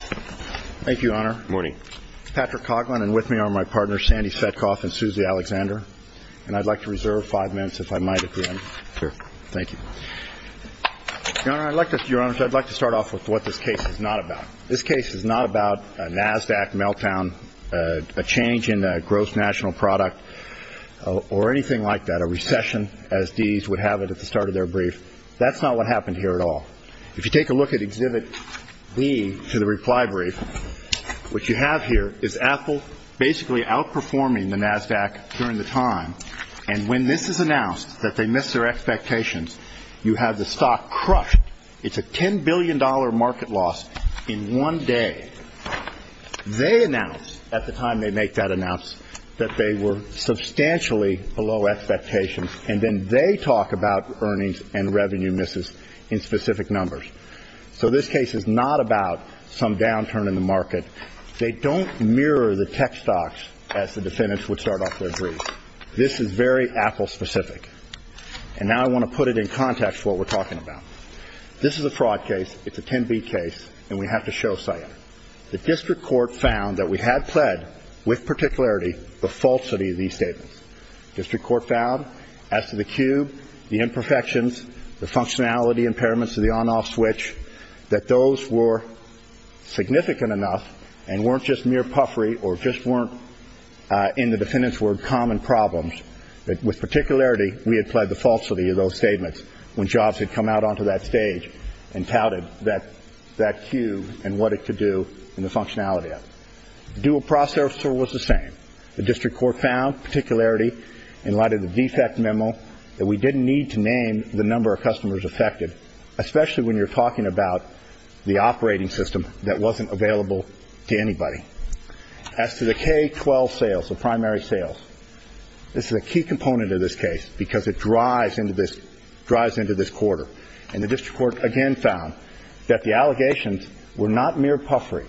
Thank you, Your Honor. Good morning. Patrick Coughlin and with me are my partners, Sandy Spetkoff and Susie Alexander, and I'd like to reserve five minutes if I might at the end. Sure. Thank you. Your Honor, I'd like to start off with what this case is not about. This case is not about a NASDAQ meltdown, a change in a gross national product, or anything like that, a recession, as these would have it at the start of their brief. That's not what happened here at all. If you take a look at Exhibit B to the reply brief, what you have here is Apple basically outperforming the NASDAQ during the time, and when this is announced that they missed their expectations, you have the stock crushed. It's a $10 billion market loss in one day. They announced at the time they make that announce that they were substantially below expectations, and then they talk about earnings and revenue misses in specific numbers. So this case is not about some downturn in the market. They don't mirror the tech stocks as the defendants would start off their brief. This is very Apple-specific. And now I want to put it in context to what we're talking about. This is a fraud case. It's a 10B case, and we have to show SIA. The district court found that we had pled, with particularity, the falsity of these statements. District court found, as to the cube, the imperfections, the functionality impairments of the on-off switch, that those were significant enough and weren't just mere puffery or just weren't, in the defendant's word, common problems. With particularity, we had pled the falsity of those statements when Jobs had come out onto that stage and touted that cube and what it could do and the functionality of it. The dual processor was the same. The district court found, with particularity, in light of the defect memo, that we didn't need to name the number of customers affected, especially when you're talking about the operating system that wasn't available to anybody. As to the K-12 sales, the primary sales, this is a key component of this case because it drives into this quarter. And the district court, again, found that the allegations were not mere puffery,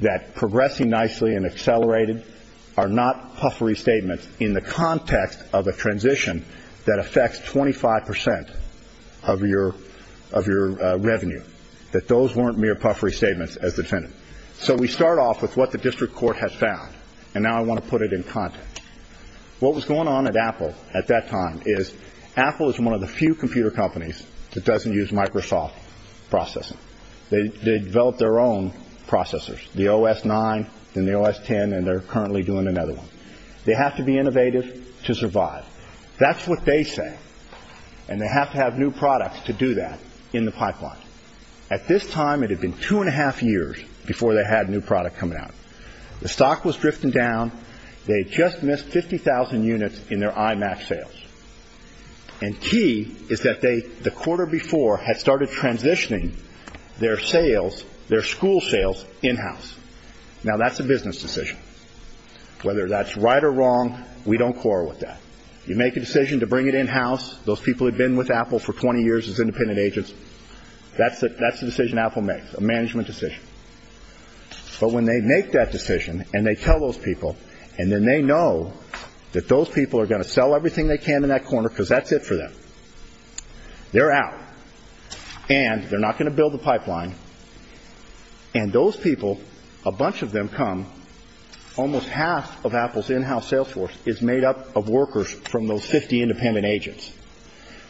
that are not puffery statements in the context of a transition that affects 25% of your revenue, that those weren't mere puffery statements as the defendant. So we start off with what the district court has found. And now I want to put it in context. What was going on at Apple at that time is, Apple is one of the few computer companies that doesn't use Microsoft processing. They developed their own processors, the OS9 and the OS10, and they're currently doing another one. They have to be innovative to survive. That's what they say. And they have to have new products to do that in the pipeline. At this time, it had been two and a half years before they had a new product coming out. The stock was drifting down. They had just missed 50,000 units in their IMAX sales. And key is that they, the quarter before, had started transitioning their sales, their school sales, in-house. Now that's a business decision. Whether that's right or wrong, we don't quarrel with that. You make a decision to bring it in-house, those people had been with Apple for 20 years as independent agents, that's the decision Apple makes, a management decision. But when they make that decision, and they tell those people, and then they know that those people are going to sell everything they can in that corner, because that's it for them. They're out. And they're not going to build the pipeline. And those people, a bunch of them come, almost half of Apple's in-house sales force is made up of workers from those 50 independent agents.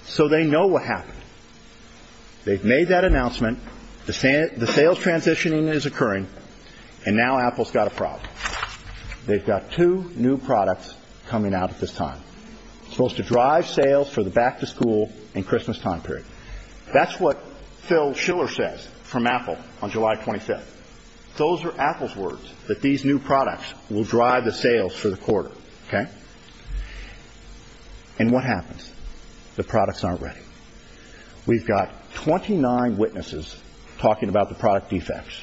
So they know what happened. They've made that announcement, the sales transitioning is occurring, and now Apple's got a problem. They've got two new products coming out at this time, supposed to drive sales for the back-to-school and Christmas time period. That's what Phil Schiller says from Apple on July 25th. Those are Apple's words, that these new products will drive the sales for the quarter, okay? And what happens? The products aren't ready. We've got 29 witnesses talking about the product defects,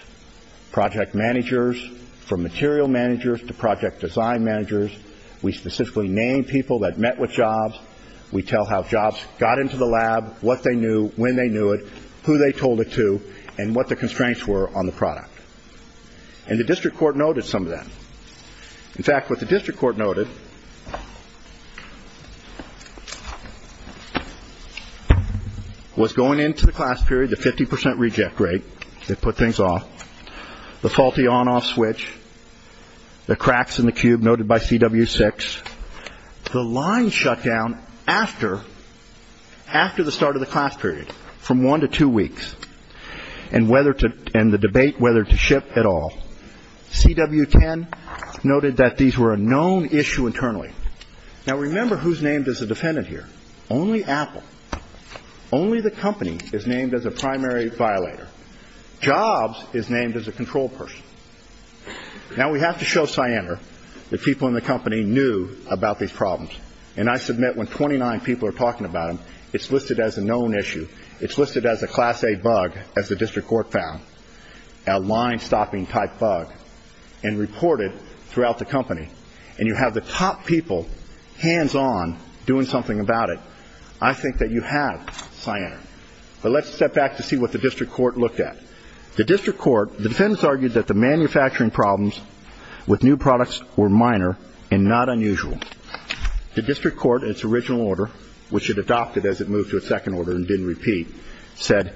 project managers, from material managers to project design managers. We specifically name people that met with Jobs. We tell how Jobs got into the lab, what they knew, when they knew it, who they told it to, and what the constraints were on the product. And the district court noted some of that. In fact, what the district court noted was going into the class period, the 50 percent reject rate, they put things off, the faulty on-off switch, the cracks in the cube noted by CW6, the line shutdown after the start of the class period, from one to two weeks, and the debate whether to ship at all. CW10 noted that these were a known issue internally. Now remember who's named as a defendant here. Only Apple. Only the company is named as a primary violator. Jobs is named as a control person. Now we have to show Cyanar that people in the company knew about these problems. And I submit when 29 people are talking about them, it's listed as a known issue. It's listed as a class A bug, as the district court found, a line stopping type bug, and reported throughout the company. And you have the top people, hands on, doing something about it. I think that you have Cyanar. But let's step back to see what the district court looked at. The district court, the defendants argued that the manufacturing problems with new products were minor and not unusual. The district court in its original order, which it adopted as it moved to a second order and didn't repeat, said,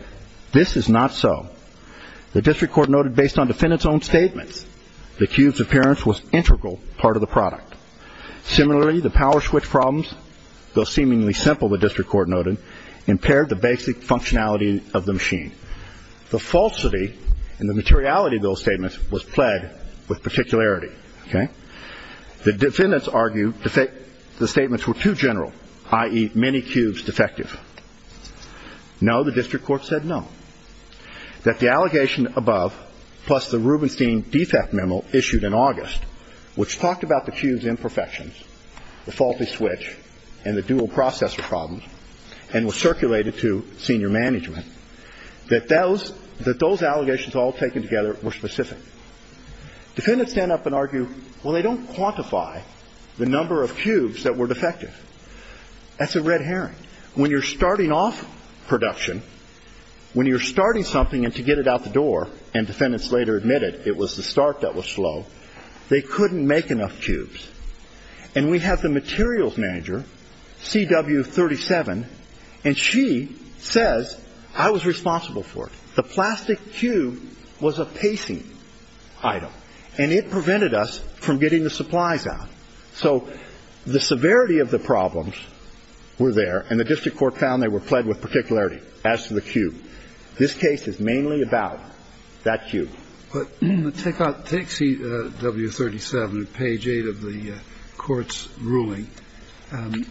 this is not so. The district court noted based on defendants' own statements, the cube's appearance was integral part of the product. Similarly, the power switch problems, though seemingly simple, the district court noted, impaired the basic functionality of the machine. The falsity and the materiality of those statements was plagued with particularity. Okay? The defendants argued the statements were too general, i.e., many cubes defective. No, the district court said no. That the allegation above, plus the Rubenstein defect memo issued in August, which talked about the cube's imperfections, the faulty switch, and the dual processor problems, and was circulated to senior management, that those allegations all taken together were specific. Defendants stand up and argue, well, they don't quantify the number of cubes that were defective. That's a red herring. When you're starting off production, when you're starting something and to get it out the door, and defendants later admitted it was the start that was slow, they couldn't make enough cubes. And we have the materials manager, CW37, and she says, I was responsible for it. The plastic cube was a pacing item, and it prevented us from getting the supplies out. So the severity of the problems were there, and the district court found they were pled with particularity as to the cube. This case is mainly about that cube. But take out CW37 at page 8 of the Court's ruling. And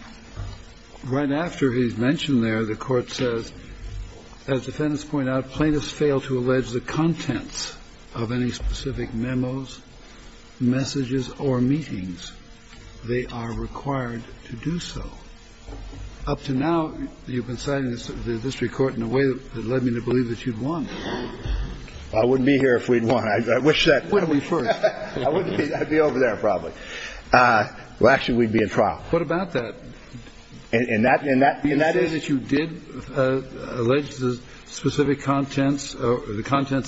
right after he's mentioned there, the Court says, as defendants point out, plaintiffs fail to allege the contents of any specific memos, messages, or meetings. They are required to do so. Up to now, you've been citing the district court in a way that led me to believe that you'd won. I wouldn't be here if we'd won. I wish that. When are we first? I wouldn't be. I'd be over there probably. Well, actually, we'd be in trial. What about that? And that is? You say that you did allege the contents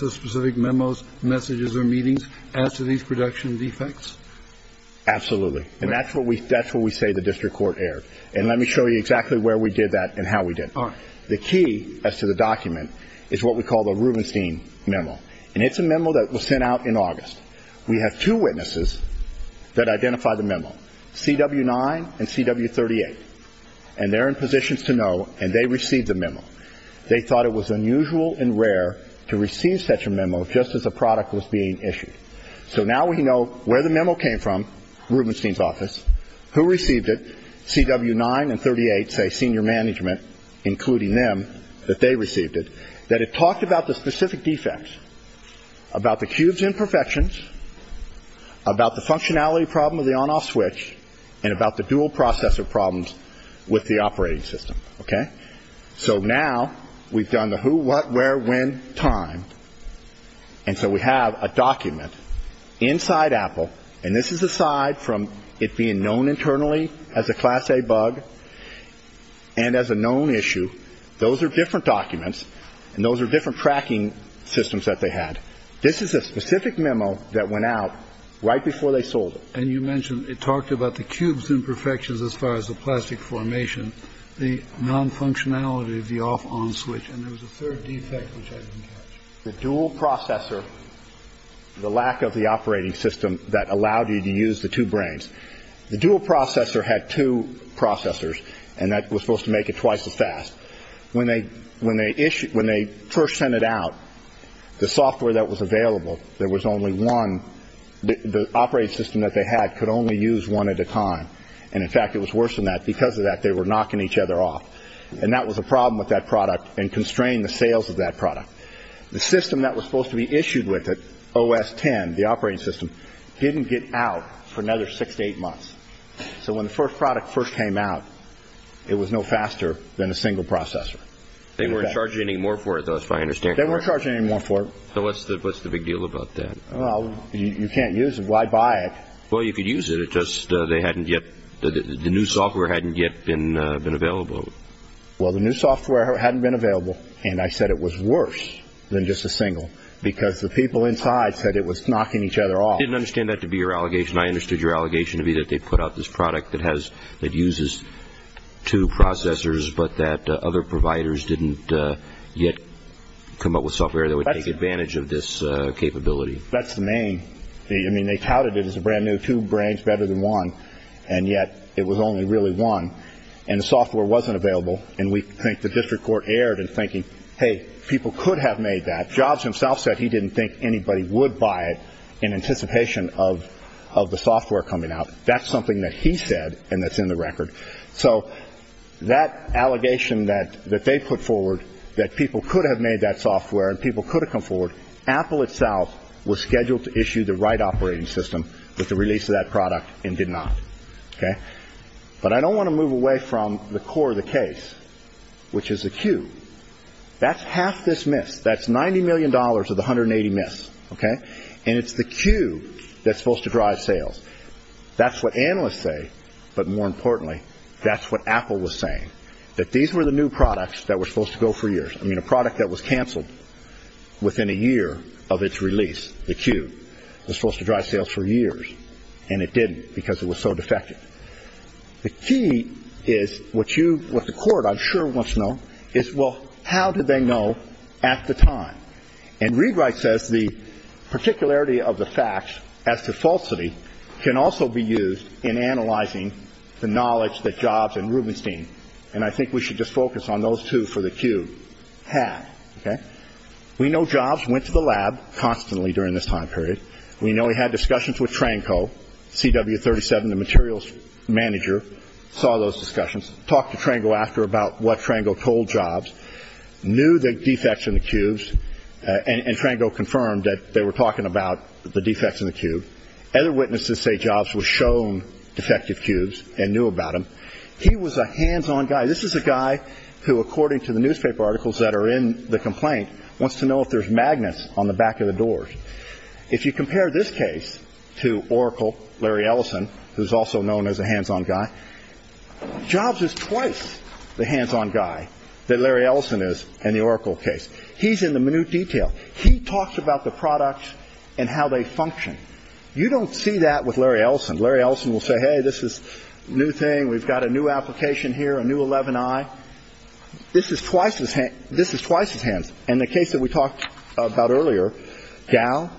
of specific memos, messages, or meetings as to these production defects? Absolutely. And that's what we say the district court erred. And let me show you exactly where we did that and how we did it. The key as to the document is what we call the Rubenstein memo. And it's a memo that was sent out in August. We have two witnesses that identify the memo, CW9 and CW38. And they're in positions to know, and they received the memo. They thought it was unusual and rare to receive such a memo just as a product was being issued. So now we know where the memo came from, Rubenstein's office, who received it, CW9 and 38 say senior management, including them, that they received it, that it talked about the specific defects, about the cube's imperfections, about the functionality problem of the on-off switch, and about the dual processor problems with the operating system. So now we've done the who, what, where, when, time. And so we have a document inside Apple. And this is aside from it being known internally as a class A bug and as a known issue. Those are different documents. And those are different tracking systems that they had. This is a specific memo that went out right before they sold it. And you mentioned it talked about the cube's imperfections as far as the plastic formation, the non-functionality of the off-on switch. And there was a third defect which I didn't catch. The dual processor, the lack of the operating system that allowed you to use the two brains. The dual processor had two processors. And that was supposed to make it twice as fast. When they first sent it out, the software that was available, there was only one, the operating system that they had could only use one at a time. And in fact, it was worse than that. Because of that, they were knocking each other off. And that was a problem with that product and constrained the sales of that product. The system that was supposed to be issued with it, OS10, the operating system, didn't get out for another six to eight months. So when the first product first came out, it was no faster than a single processor. They weren't charging any more for it, though, as far as I understand. They weren't charging any more for it. So what's the big deal about that? Well, you can't use it. Why buy it? Well, if you use it, it's just they hadn't yet, the new software hadn't yet been available. Well, the new software hadn't been available. And I said it was worse than just a single. Because the people inside said it was knocking each other off. I didn't understand that to be your allegation. I understood your allegation to be that they put out this product that uses two processors, but that other providers didn't yet come up with software that would take advantage of this capability. That's the main thing. I mean, they touted it as a brand new two brains better than one. And yet it was only really one. And the software wasn't available. And we think the district court erred in thinking, hey, people could have made that. Jobs himself said he didn't think anybody would buy it in anticipation of of the software coming out. That's something that he said. And that's in the record. So that allegation that that they put forward, that people could have made that software and people could have come forward. Apple itself was scheduled to issue the right operating system with the release of that product and did not. But I don't want to move away from the core of the case, which is acute. That's half dismissed. That's 90 million dollars of the hundred and eighty miss. OK. And it's the queue that's supposed to drive sales. That's what analysts say. But more importantly, that's what Apple was saying, that these were the new products that were supposed to go for years. I mean, a product that was canceled within a year of its release. The queue was supposed to drive sales for years. And it did because it was so defective. The key is what you what the court, I'm sure, wants to know is, well, how did they know at the time? And Readwright says the particularity of the facts as to falsity can also be used in analyzing the knowledge that jobs and Rubinstein. And I think we should just focus on those two for the queue. Had we no jobs, went to the lab constantly during this time period. We know we had discussions with Tranco CW thirty seven. The materials manager saw those discussions. Talk to Trango after about what Trango told jobs, knew the defects in the cubes and Trango confirmed that they were talking about the defects in the cube. Other witnesses say jobs were shown defective cubes and knew about him. He was a hands on guy. This is a guy who, according to the newspaper articles that are in the complaint, wants to know if there's magnets on the back of the doors. If you compare this case to Oracle, Larry Ellison, who's also known as a hands on guy jobs is twice the hands on guy that Larry Ellison is. And the Oracle case, he's in the minute detail. He talks about the product and how they function. You don't see that with Larry Ellison. Larry Ellison will say, hey, this is new thing. We've got a new application here, a new 11. I this is twice as this is twice as hands. And the case that we talked about earlier, Gal,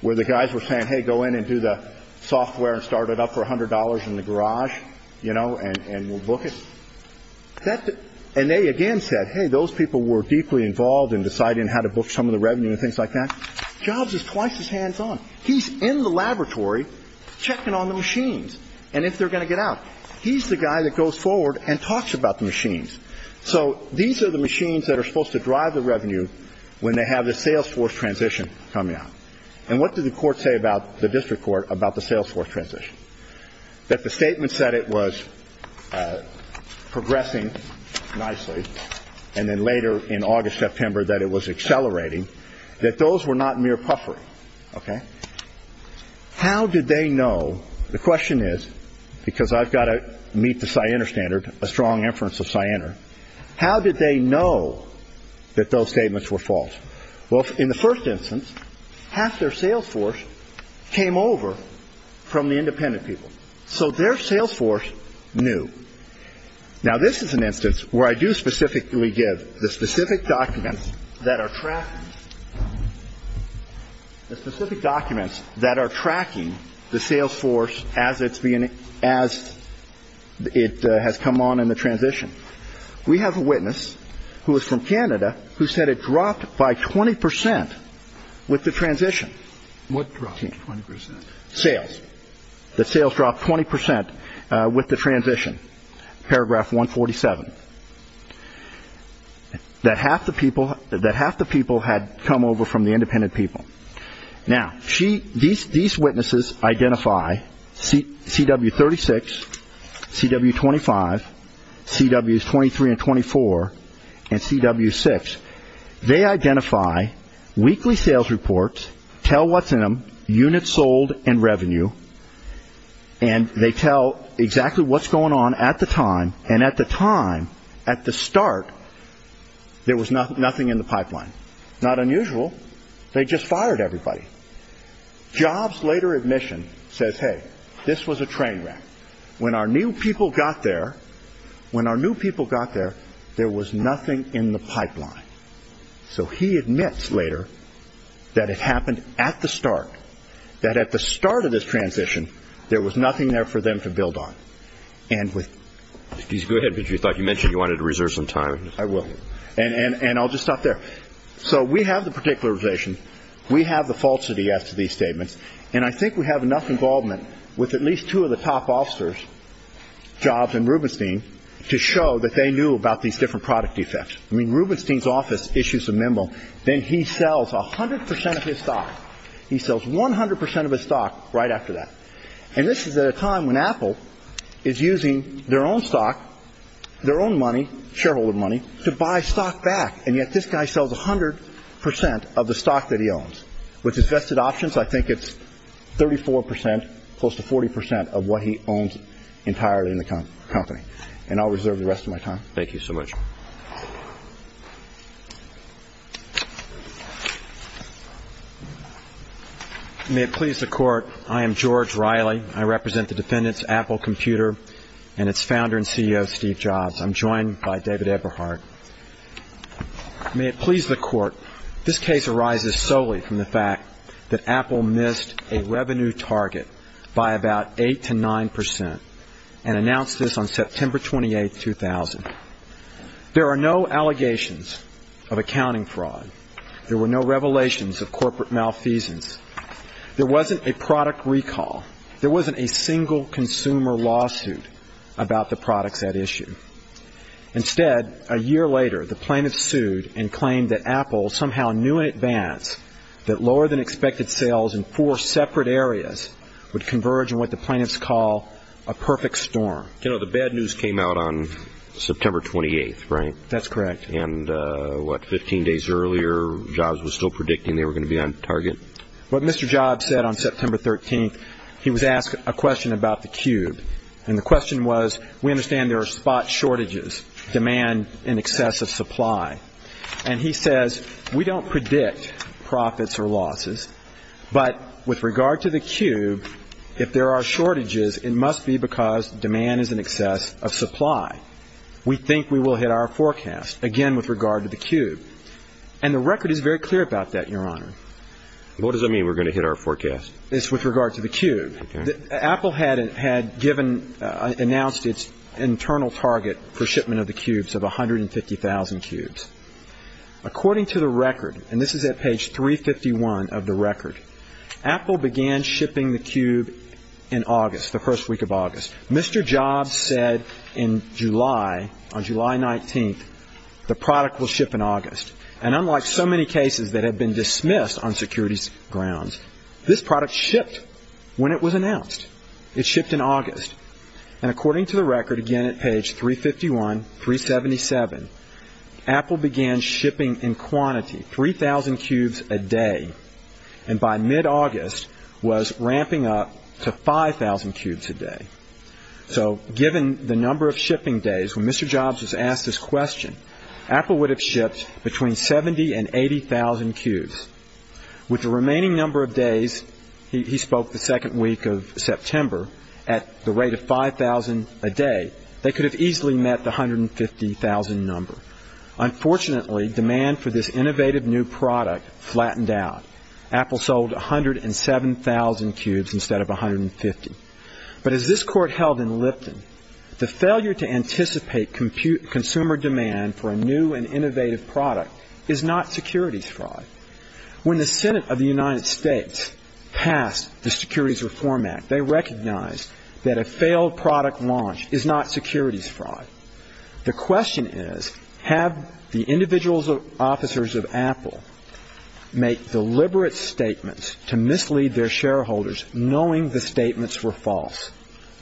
where the guys were saying, hey, go in and do the software and start it up for one hundred dollars in the garage, you know, and we'll book it. And they again said, hey, those people were deeply involved in deciding how to book some of the revenue and things like that. Jobs is twice as hands on. He's in the laboratory checking on the machines. And if they're going to get out, he's the guy that goes forward and talks about the machines. So these are the machines that are supposed to drive the revenue when they have the salesforce transition coming up. And what did the court say about the district court about the salesforce transition? That the statement said it was progressing nicely. And then later in August, September, that it was accelerating, that those were not mere puffery. OK, how did they know? The question is, because I've got to meet the standard, a strong inference of cyanide. How did they know that those statements were false? Well, in the first instance, half their salesforce came over from the independent people. So their salesforce knew. Now, this is an instance where I do specifically give the specific documents that are tracking the specific documents that are tracking the salesforce as it's being as it has come on in the transition. We have a witness who is from Canada who said it dropped by 20 percent with the transition. What dropped 20 percent sales? The sales dropped 20 percent with the transition. Paragraph 147, that half the people had come over from the independent people. Now, these witnesses identify CW36, CW25, CWs 23 and 24, and CW6. They identify weekly sales reports, tell what's in them, units sold, and revenue. And they tell exactly what's going on at the time. And at the time, at the start, there was nothing in the pipeline. Not unusual. They just fired everybody. Jobs' later admission says, hey, this was a train wreck. When our new people got there, when our new people got there, there was nothing in the pipeline. So he admits later that it happened at the start, that at the start of this transition, there was nothing there for them to build on. And with – Go ahead, because you thought – you mentioned you wanted to reserve some time. I will. And I'll just stop there. So we have the particularization. We have the falsity as to these statements. And I think we have enough involvement with at least two of the top officers, Jobs and Rubenstein, to show that they knew about these different product defects. I mean, Rubenstein's office issues a memo. Then he sells 100 percent of his stock. He sells 100 percent of his stock right after that. And this is at a time when Apple is using their own stock, their own money, shareholder money, to buy stock back. And yet this guy sells 100 percent of the stock that he owns. With his vested options, I think it's 34 percent, close to 40 percent of what he owns entirely in the company. And I'll reserve the rest of my time. Thank you so much. May it please the Court, I am George Riley. I represent the defendants, Apple Computer, and its founder and CEO, Steve Jobs. I'm joined by David Eberhardt. May it please the Court, this case arises solely from the fact that Apple missed a revenue target by about 8 to 9 percent and announced this on September 28, 2000. There are no allegations of accounting fraud. There were no revelations of corporate malfeasance. There wasn't a product recall. There wasn't a single consumer lawsuit about the products at issue. Instead, a year later, the plaintiffs sued and claimed that Apple somehow knew in advance that lower-than-expected sales in four separate areas would converge in what the plaintiffs call a perfect storm. You know, the bad news came out on September 28, right? That's correct. And what, 15 days earlier, Jobs was still predicting they were going to be on target? What Mr. Jobs said on September 13, he was asked a question about the Cube. And the question was, we understand there are spot shortages, demand in excess of supply. And he says, we don't predict profits or losses, but with regard to the Cube, if there are shortages, it must be because demand is in excess of supply. We think we will hit our forecast, again, with regard to the Cube. And the record is very clear about that, Your Honor. What does that mean, we're going to hit our forecast? It's with regard to the Cube. Apple had announced its internal target for shipment of the Cubes of 150,000 Cubes. According to the record, and this is at page 351 of the record, Apple began shipping the Cube in August, the first week of August. Mr. Jobs said in July, on July 19, the product will ship in August. And unlike so many cases that have been dismissed on securities grounds, this product shipped when it was announced. It shipped in August. And according to the record, again, at page 351, 377, Apple began shipping in quantity, 3,000 Cubes a day. And by mid-August, was ramping up to 5,000 Cubes a day. So given the number of shipping days when Mr. Jobs was asked this question, Apple would have shipped between 70,000 and 80,000 Cubes. With the remaining number of days, he spoke the second week of September, at the rate of 5,000 a day, they could have easily met the 150,000 number. Unfortunately, demand for this innovative new product flattened out. Apple sold 107,000 Cubes instead of 150. But as this court held in Lipton, the failure to anticipate consumer demand for a new and innovative product is not securities fraud. When the Senate of the United States passed the Securities Reform Act, they recognized that a failed product launch is not securities fraud. The question is, have the individual officers of Apple made deliberate statements to mislead their shareholders, knowing the statements were false?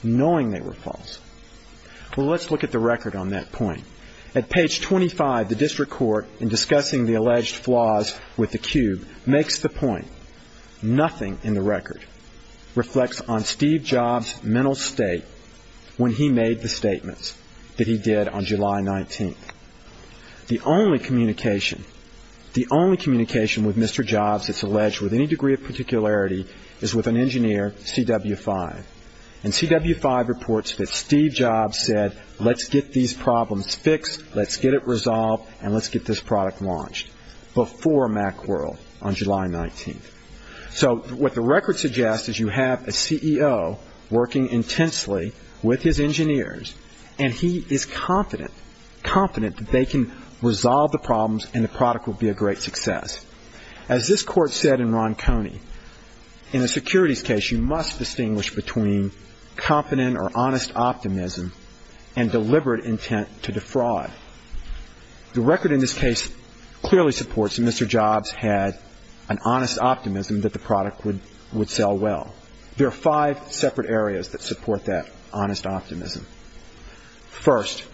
Knowing they were false. Well, let's look at the record on that point. At page 25, the district court, in discussing the alleged flaws with the Cube, makes the point. Nothing in the record reflects on Steve Jobs' mental state when he made the statements that he did on July 19th. The only communication, the only communication with Mr. Jobs that's alleged with any degree of particularity is with an engineer, CW5. And CW5 reports that Steve Jobs said, let's get these problems fixed, let's get it resolved, and let's get this product launched before Macworld on July 19th. So what the record suggests is you have a CEO working intensely with his engineers, and he is confident, confident that they can resolve the problems and the product will be a great success. As this court said in Ron Coney, in a securities case, you must distinguish between confident or honest optimism and deliberate intent to defraud. The record in this case clearly supports that Mr. Jobs had an honest optimism that the product would sell well. There are five separate areas that support that honest optimism. First,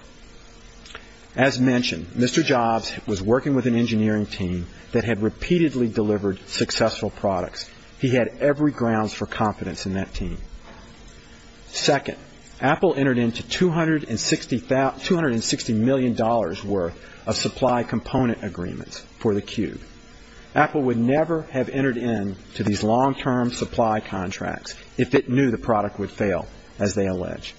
as mentioned, Mr. Jobs was working with an engineering team that had repeatedly delivered successful products. He had every grounds for confidence in that team. Second, Apple entered into $260 million worth of supply component agreements for the Cube. Apple would never have entered into these long-term supply contracts if it knew the product would fail, as they allege.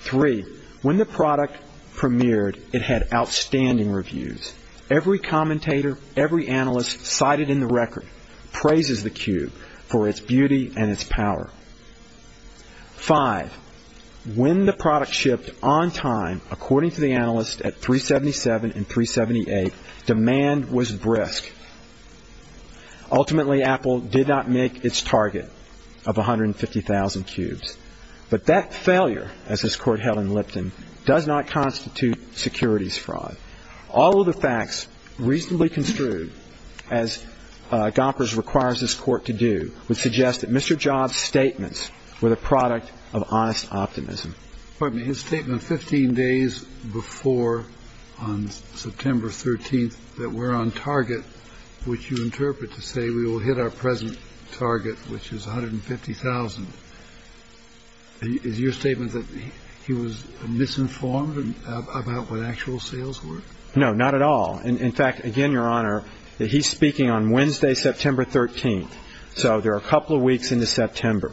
Three, when the product premiered, it had outstanding reviews. Every commentator, every analyst cited in the record praises the Cube for its beauty and its power. Five, when the product shipped on time, according to the analysts at 377 and 378, demand was brisk. Ultimately, Apple did not make its target of 150,000 Cubes. But that failure, as this court held in Lipton, does not constitute securities fraud. All of the facts reasonably construed, as Gompers requires this court to do, would suggest that Mr. Jobs' statements were the product of honest optimism. Pardon me. His statement 15 days before, on September 13th, that we're on target, which you interpret to say we will hit our present target, which is 150,000. Is your statement that he was misinformed about what actual sales were? No, not at all. In fact, again, Your Honor, he's speaking on Wednesday, September 13th. So there are a couple of weeks into September.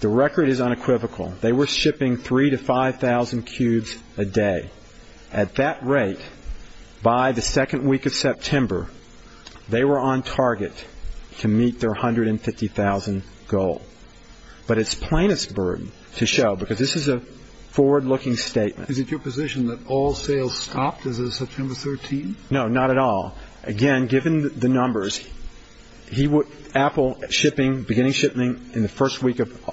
The record is unequivocal. They were shipping 3,000 to 5,000 Cubes a day. At that rate, by the second week of September, they were on target to meet their 150,000 goal. But it's plainest burden to show, because this is a forward-looking statement. Is it your position that all sales stopped as of September 13th? No, not at all. Again, given the numbers, Apple, beginning shipping in the first week of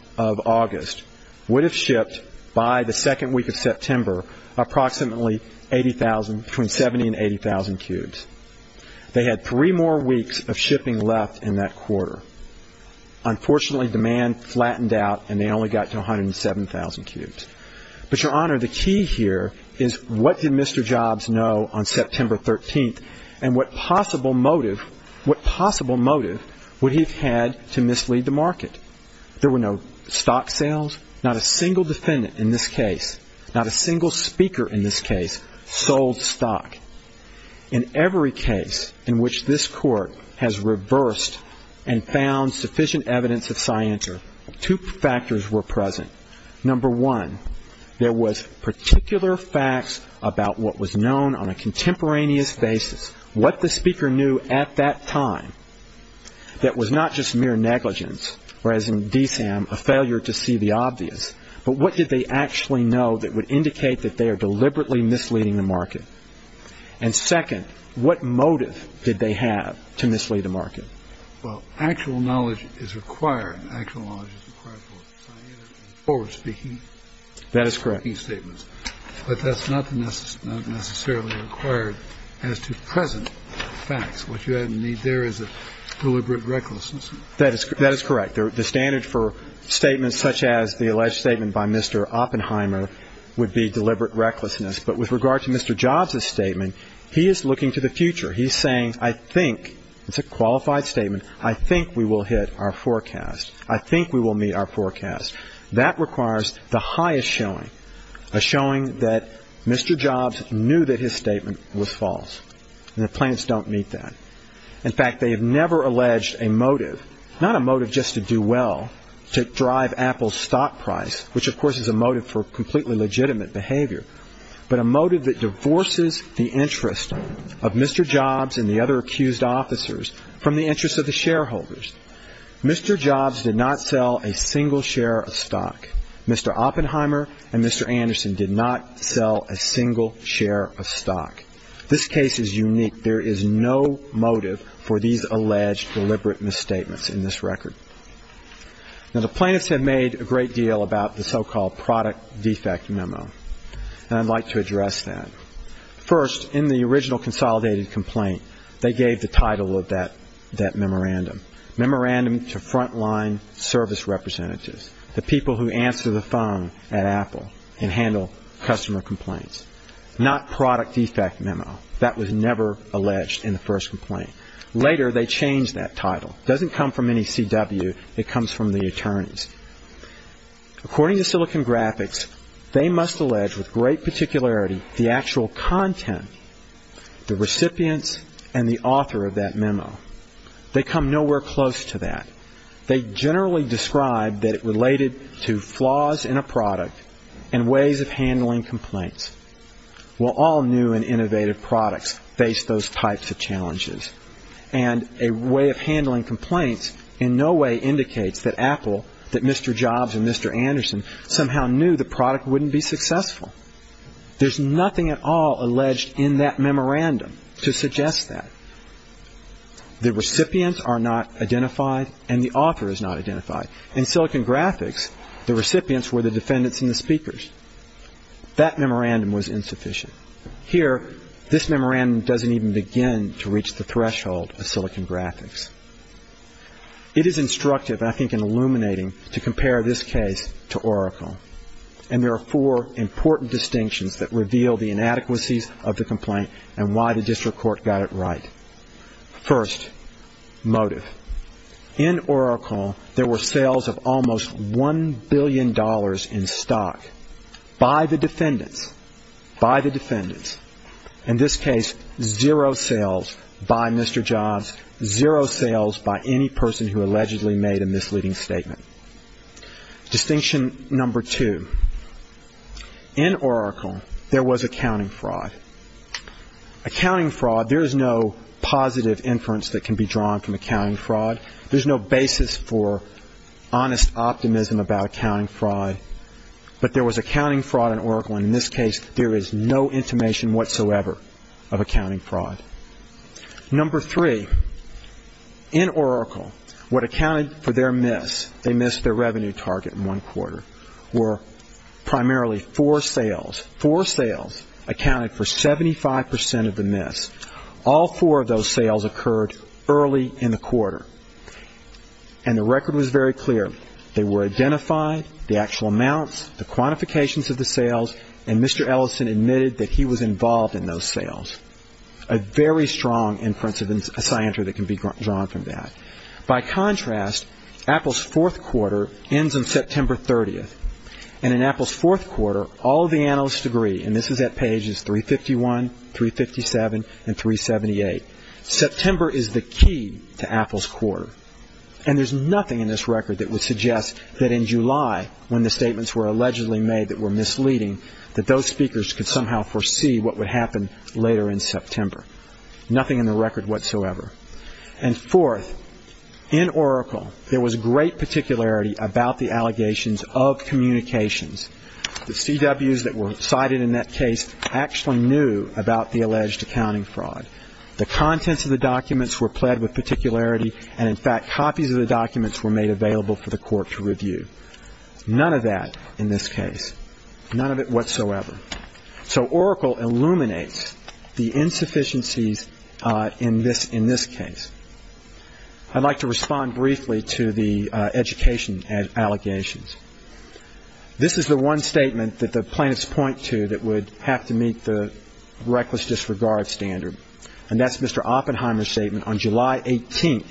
August, would have shipped, by the second week of September, approximately 80,000, between 70,000 and 80,000 Cubes. They had three more weeks of shipping left in that quarter. Unfortunately, demand flattened out, and they only got to 107,000 Cubes. But, Your Honor, the key here is what did Mr. Jobs know on September 13th, and what possible motive would he have had to mislead the market? There were no stock sales. Not a single defendant in this case, not a single speaker in this case, sold stock. In every case in which this Court has reversed and found sufficient evidence of scienter, two factors were present. Number one, there was particular facts about what was known on a contemporaneous basis, what the speaker knew at that time that was not just mere negligence or, as in DSAM, a failure to see the obvious, but what did they actually know that would indicate that they are deliberately misleading the market? And second, what motive did they have to mislead the market? Well, actual knowledge is required. Actual knowledge is required for scientific and forward-speaking statements. That is correct. But that's not necessarily required as to present facts. What you need there is a deliberate recklessness. That is correct. The standard for statements such as the alleged statement by Mr. Oppenheimer would be deliberate recklessness. But with regard to Mr. Jobs' statement, he is looking to the future. He's saying, I think, it's a qualified statement, I think we will hit our forecast. I think we will meet our forecast. That requires the highest showing, a showing that Mr. Jobs knew that his statement was false, and the plaintiffs don't meet that. In fact, they have never alleged a motive, not a motive just to do well, to drive Apple's stock price, which, of course, is a motive for completely legitimate behavior, but a motive that divorces the interest of Mr. Jobs and the other accused officers from the interest of the shareholders. Mr. Jobs did not sell a single share of stock. Mr. Oppenheimer and Mr. Anderson did not sell a single share of stock. This case is unique. There is no motive for these alleged deliberate misstatements in this record. Now, the plaintiffs have made a great deal about the so-called product defect memo, and I'd like to address that. First, in the original consolidated complaint, they gave the title of that memorandum, Memorandum to Frontline Service Representatives, the people who answer the phone at Apple and handle customer complaints. Not product defect memo. That was never alleged in the first complaint. Later, they changed that title. It doesn't come from any CW. It comes from the attorneys. According to Silicon Graphics, they must allege with great particularity the actual content, the recipients, and the author of that memo. They come nowhere close to that. They generally describe that it related to flaws in a product and ways of handling complaints. Well, all new and innovative products face those types of challenges, and a way of handling complaints in no way indicates that Apple, that Mr. Jobs and Mr. Anderson, somehow knew the product wouldn't be successful. There's nothing at all alleged in that memorandum to suggest that. The recipients are not identified, and the author is not identified. In Silicon Graphics, the recipients were the defendants and the speakers. That memorandum was insufficient. Here, this memorandum doesn't even begin to reach the threshold of Silicon Graphics. It is instructive, and I think illuminating, to compare this case to Oracle, and there are four important distinctions that reveal the inadequacies of the complaint and why the district court got it right. First, motive. In Oracle, there were sales of almost $1 billion in stock by the defendants, by the defendants. In this case, zero sales by Mr. Jobs, zero sales by any person who allegedly made a misleading statement. Distinction number two. In Oracle, there was accounting fraud. Accounting fraud, there is no positive inference that can be drawn from accounting fraud. There's no basis for honest optimism about accounting fraud, but there was accounting fraud in Oracle, and in this case, there is no intimation whatsoever of accounting fraud. Number three. In Oracle, what accounted for their miss, they missed their revenue target in one quarter, were primarily four sales. Four sales accounted for 75% of the miss. All four of those sales occurred early in the quarter, and the record was very clear. They were identified, the actual amounts, the quantifications of the sales, and Mr. Ellison admitted that he was involved in those sales. A very strong inference of a scienter that can be drawn from that. By contrast, Apple's fourth quarter ends on September 30th, and in Apple's fourth quarter, all of the analysts agree, and this is at pages 351, 357, and 378. September is the key to Apple's quarter, and there's nothing in this record that would suggest that in July, when the statements were allegedly made that were misleading, that those speakers could somehow foresee what would happen later in September. Nothing in the record whatsoever. And fourth, in Oracle, there was great particularity about the allegations of communications. The CWs that were cited in that case actually knew about the alleged accounting fraud. The contents of the documents were pled with particularity, and in fact, copies of the documents were made available for the court to review. None of that in this case. None of it whatsoever. So Oracle illuminates the insufficiencies in this case. I'd like to respond briefly to the education allegations. This is the one statement that the plaintiffs point to that would have to meet the reckless disregard standard, and that's Mr. Oppenheimer's statement on July 18th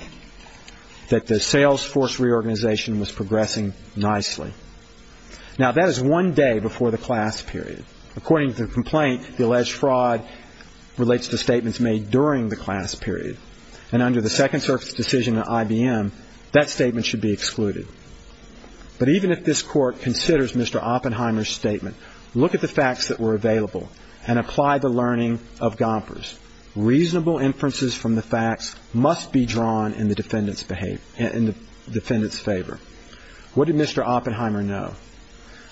that the sales force reorganization was progressing nicely. Now, that is one day before the class period. According to the complaint, the alleged fraud relates to statements made during the class period, and under the Second Circuit's decision in IBM, that statement should be excluded. But even if this court considers Mr. Oppenheimer's statement, look at the facts that were available and apply the learning of Gompers. Reasonable inferences from the facts must be drawn in the defendant's favor. What did Mr. Oppenheimer know?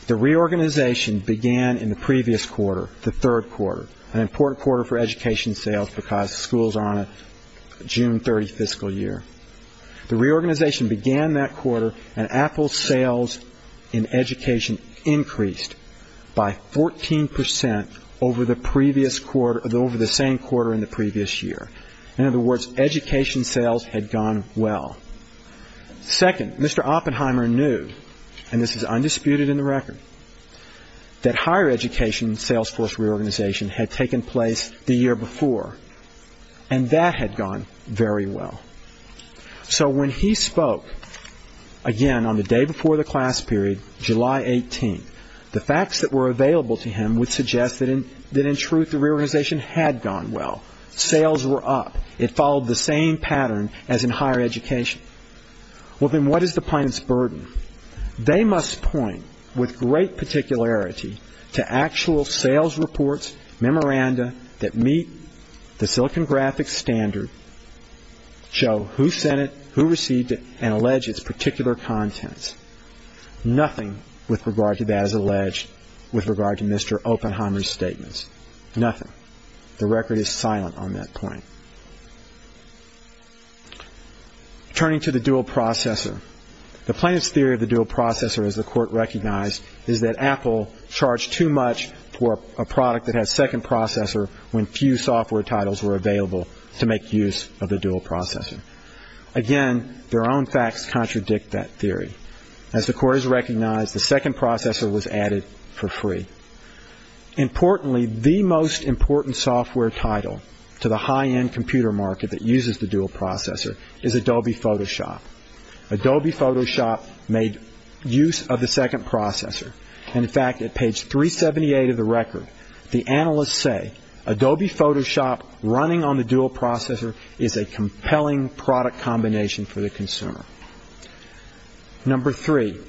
The reorganization began in the previous quarter, the third quarter, an important quarter for education sales because schools are on a June 30th fiscal year. The reorganization began that quarter, and Apple's sales in education increased by 14% over the previous quarter, over the same quarter in the previous year. In other words, education sales had gone well. Second, Mr. Oppenheimer knew, and this is undisputed in the record, that higher education sales force reorganization had taken place the year before, and that had gone very well. So when he spoke, again, on the day before the class period, July 18th, the facts that were available to him would suggest that in truth the reorganization had gone well. Sales were up. It followed the same pattern as in higher education. Well, then what is the plaintiff's burden? They must point with great particularity to actual sales reports, memoranda that meet the Silicon Graphics standard, show who sent it, who received it, and allege its particular contents. Nothing with regard to that is alleged with regard to Mr. Oppenheimer's statements. Nothing. The record is silent on that point. Turning to the dual processor. The plaintiff's theory of the dual processor, as the Court recognized, is that Apple charged too much for a product that has second processor when few software titles were available to make use of the dual processor. Again, their own facts contradict that theory. As the Court has recognized, the second processor was added for free. Importantly, the most important software title to the high-end computer market that uses the dual processor is Adobe Photoshop. Adobe Photoshop made use of the second processor. In fact, at page 378 of the record, the analysts say, Adobe Photoshop running on the dual processor is a compelling product combination for the consumer. Number three.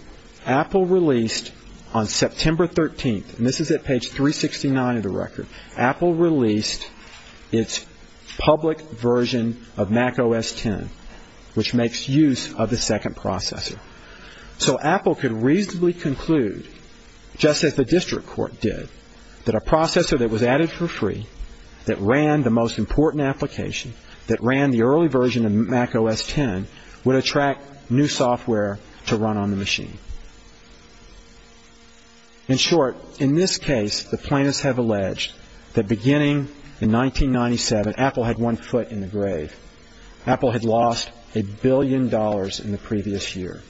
Apple released on September 13th, and this is at page 369 of the record, Apple released its public version of Mac OS X, which makes use of the second processor. So Apple could reasonably conclude, just as the district court did, that a processor that was added for free, that ran the most important application, that ran the early version of Mac OS X, would attract new software to run on the machine. In short, in this case, the plaintiffs have alleged that beginning in 1997, Apple had one foot in the grave. Apple had lost a billion dollars in the previous year.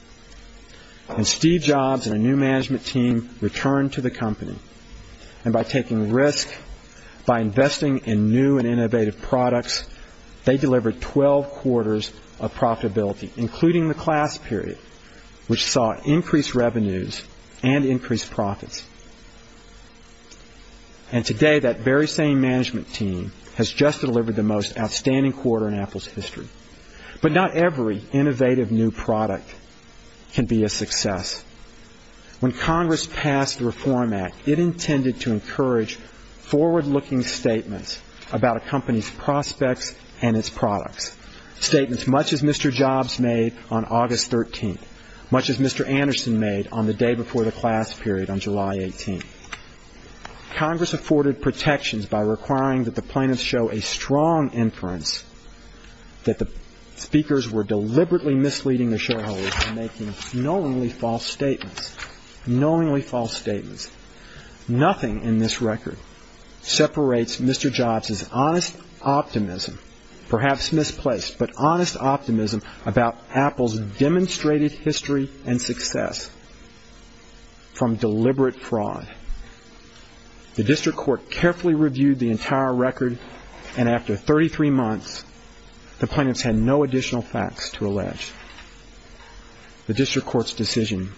And Steve Jobs and a new management team returned to the company. And by taking risk, by investing in new and innovative products, they delivered 12 quarters of profitability, including the class period, which saw increased revenues and increased profits. And today, that very same management team has just delivered the most outstanding quarter in Apple's history. But not every innovative new product can be a success. When Congress passed the Reform Act, it intended to encourage forward-looking statements about a company's prospects and its products, statements much as Mr. Jobs made on August 13th, much as Mr. Anderson made on the day before the class period on July 18th. Congress afforded protections by requiring that the plaintiffs show a strong inference that the speakers were deliberately misleading the shareholders and making knowingly false statements, knowingly false statements. Nothing in this record separates Mr. Jobs' honest optimism, perhaps misplaced, but honest optimism about Apple's demonstrated history and success from deliberate fraud. The district court carefully reviewed the entire record, and after 33 months, the plaintiffs had no additional facts to allege. The district court's decision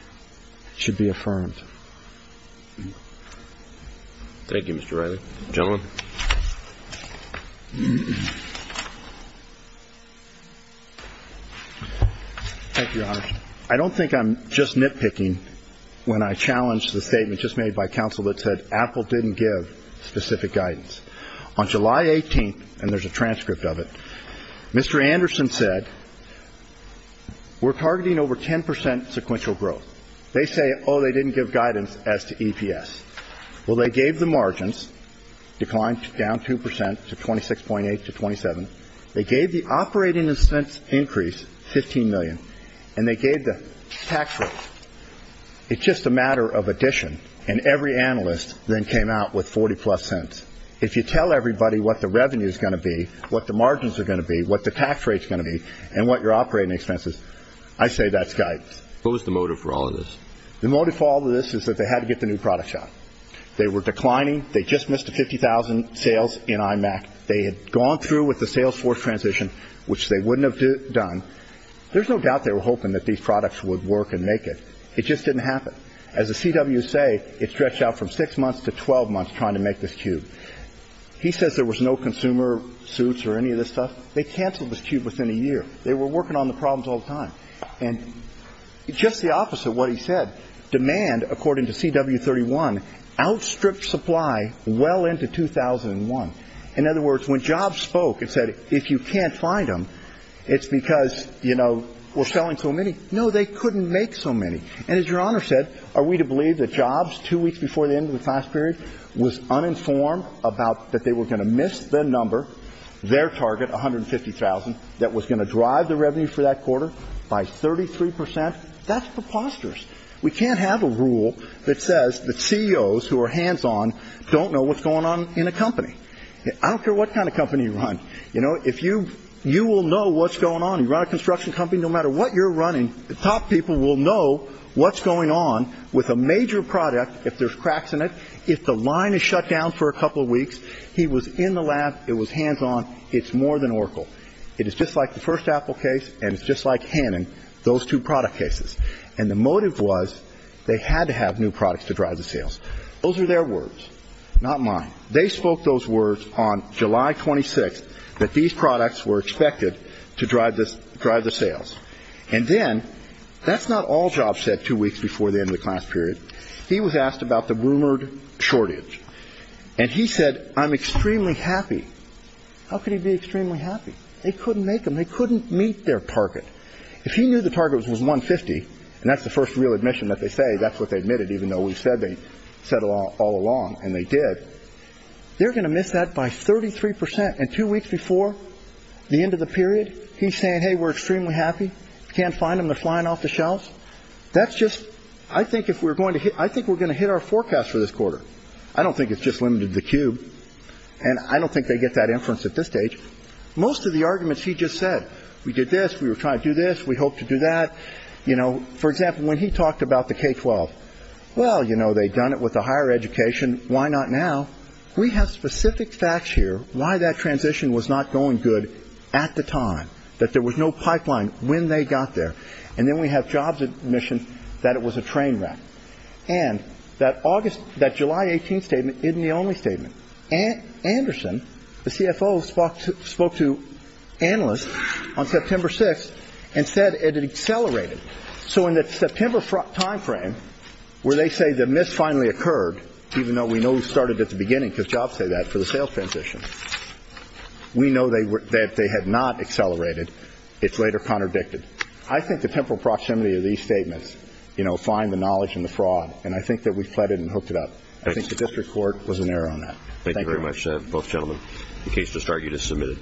should be affirmed. Thank you, Mr. Riley. Gentleman? Thank you, Alex. I don't think I'm just nitpicking when I challenge the statement just made by counsel that said Apple didn't give specific guidance. On July 18th, and there's a transcript of it, Mr. Anderson said, we're targeting over 10 percent sequential growth. They say, oh, they didn't give guidance as to EPS. Well, they gave the margins, declined down 2 percent to 26.8 to 27. They gave the operating expense increase 15 million, and they gave the tax rate. It's just a matter of addition, and every analyst then came out with 40-plus cents. If you tell everybody what the revenue is going to be, what the margins are going to be, what the tax rate is going to be, and what your operating expense is, I say that's guidance. What was the motive for all of this? The motive for all of this is that they had to get the new product shot. They were declining. They just missed the 50,000 sales in IMAC. They had gone through with the salesforce transition, which they wouldn't have done. There's no doubt they were hoping that these products would work and make it. It just didn't happen. As the CWs say, it stretched out from six months to 12 months trying to make this cube. He says there was no consumer suits or any of this stuff. They canceled this cube within a year. They were working on the problems all the time, and just the opposite of what he said. Demand, according to CW 31, outstripped supply well into 2001. In other words, when Jobs spoke and said, if you can't find them, it's because, you know, we're selling so many, no, they couldn't make so many. And as Your Honor said, are we to believe that Jobs, two weeks before the end of the class period, was uninformed about that they were going to miss the number, their target, 150,000, that was going to drive the revenue for that quarter by 33 percent? That's preposterous. We can't have a rule that says that CEOs who are hands-on don't know what's going on in a company. I don't care what kind of company you run. You know, if you will know what's going on, you run a construction company, no matter what you're running, the top people will know what's going on with a major product, if there's cracks in it, if the line is shut down for a couple of weeks. He was in the lab. It was hands-on. It's more than Oracle. It is just like the first Apple case, and it's just like Hannon, those two product cases. And the motive was they had to have new products to drive the sales. Those are their words, not mine. They spoke those words on July 26th that these products were expected to drive the sales. And then that's not all Jobs said two weeks before the end of the class period. He was asked about the rumored shortage, and he said, I'm extremely happy. How could he be extremely happy? They couldn't make them. They couldn't meet their target. If he knew the target was 150, and that's the first real admission that they say, that's what they admitted, even though we said they said all along, and they did, they're going to miss that by 33%. And two weeks before the end of the period, he's saying, hey, we're extremely happy. Can't find them. They're flying off the shelves. That's just, I think if we're going to hit, I think we're going to hit our forecast for this quarter. I don't think it's just limited to the cube, and I don't think they get that inference at this stage. Most of the arguments he just said, we did this, we were trying to do this, we hope to do that. For example, when he talked about the K-12, well, you know, they'd done it with the higher education. Why not now? We have specific facts here why that transition was not going good at the time, that there was no pipeline when they got there. And then we have jobs admission that it was a train wreck. And that July 18th statement isn't the only statement. Anderson, the CFO, spoke to analysts on September 6th and said it had accelerated. So in that September timeframe where they say the miss finally occurred, even though we know it started at the beginning because jobs say that for the sales transition, we know that they had not accelerated. It's later contradicted. I think the temporal proximity of these statements, you know, find the knowledge and the fraud. And I think that we fled it and hooked it up. I think the district court was in error on that. Thank you very much, both gentlemen. The case to start you to submit it.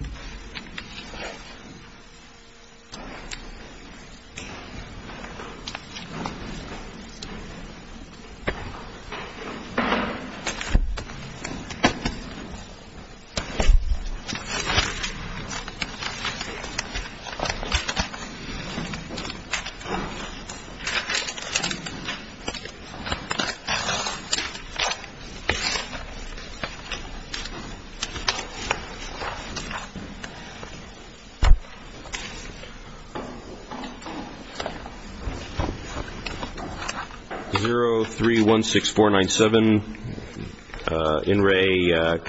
Thank you.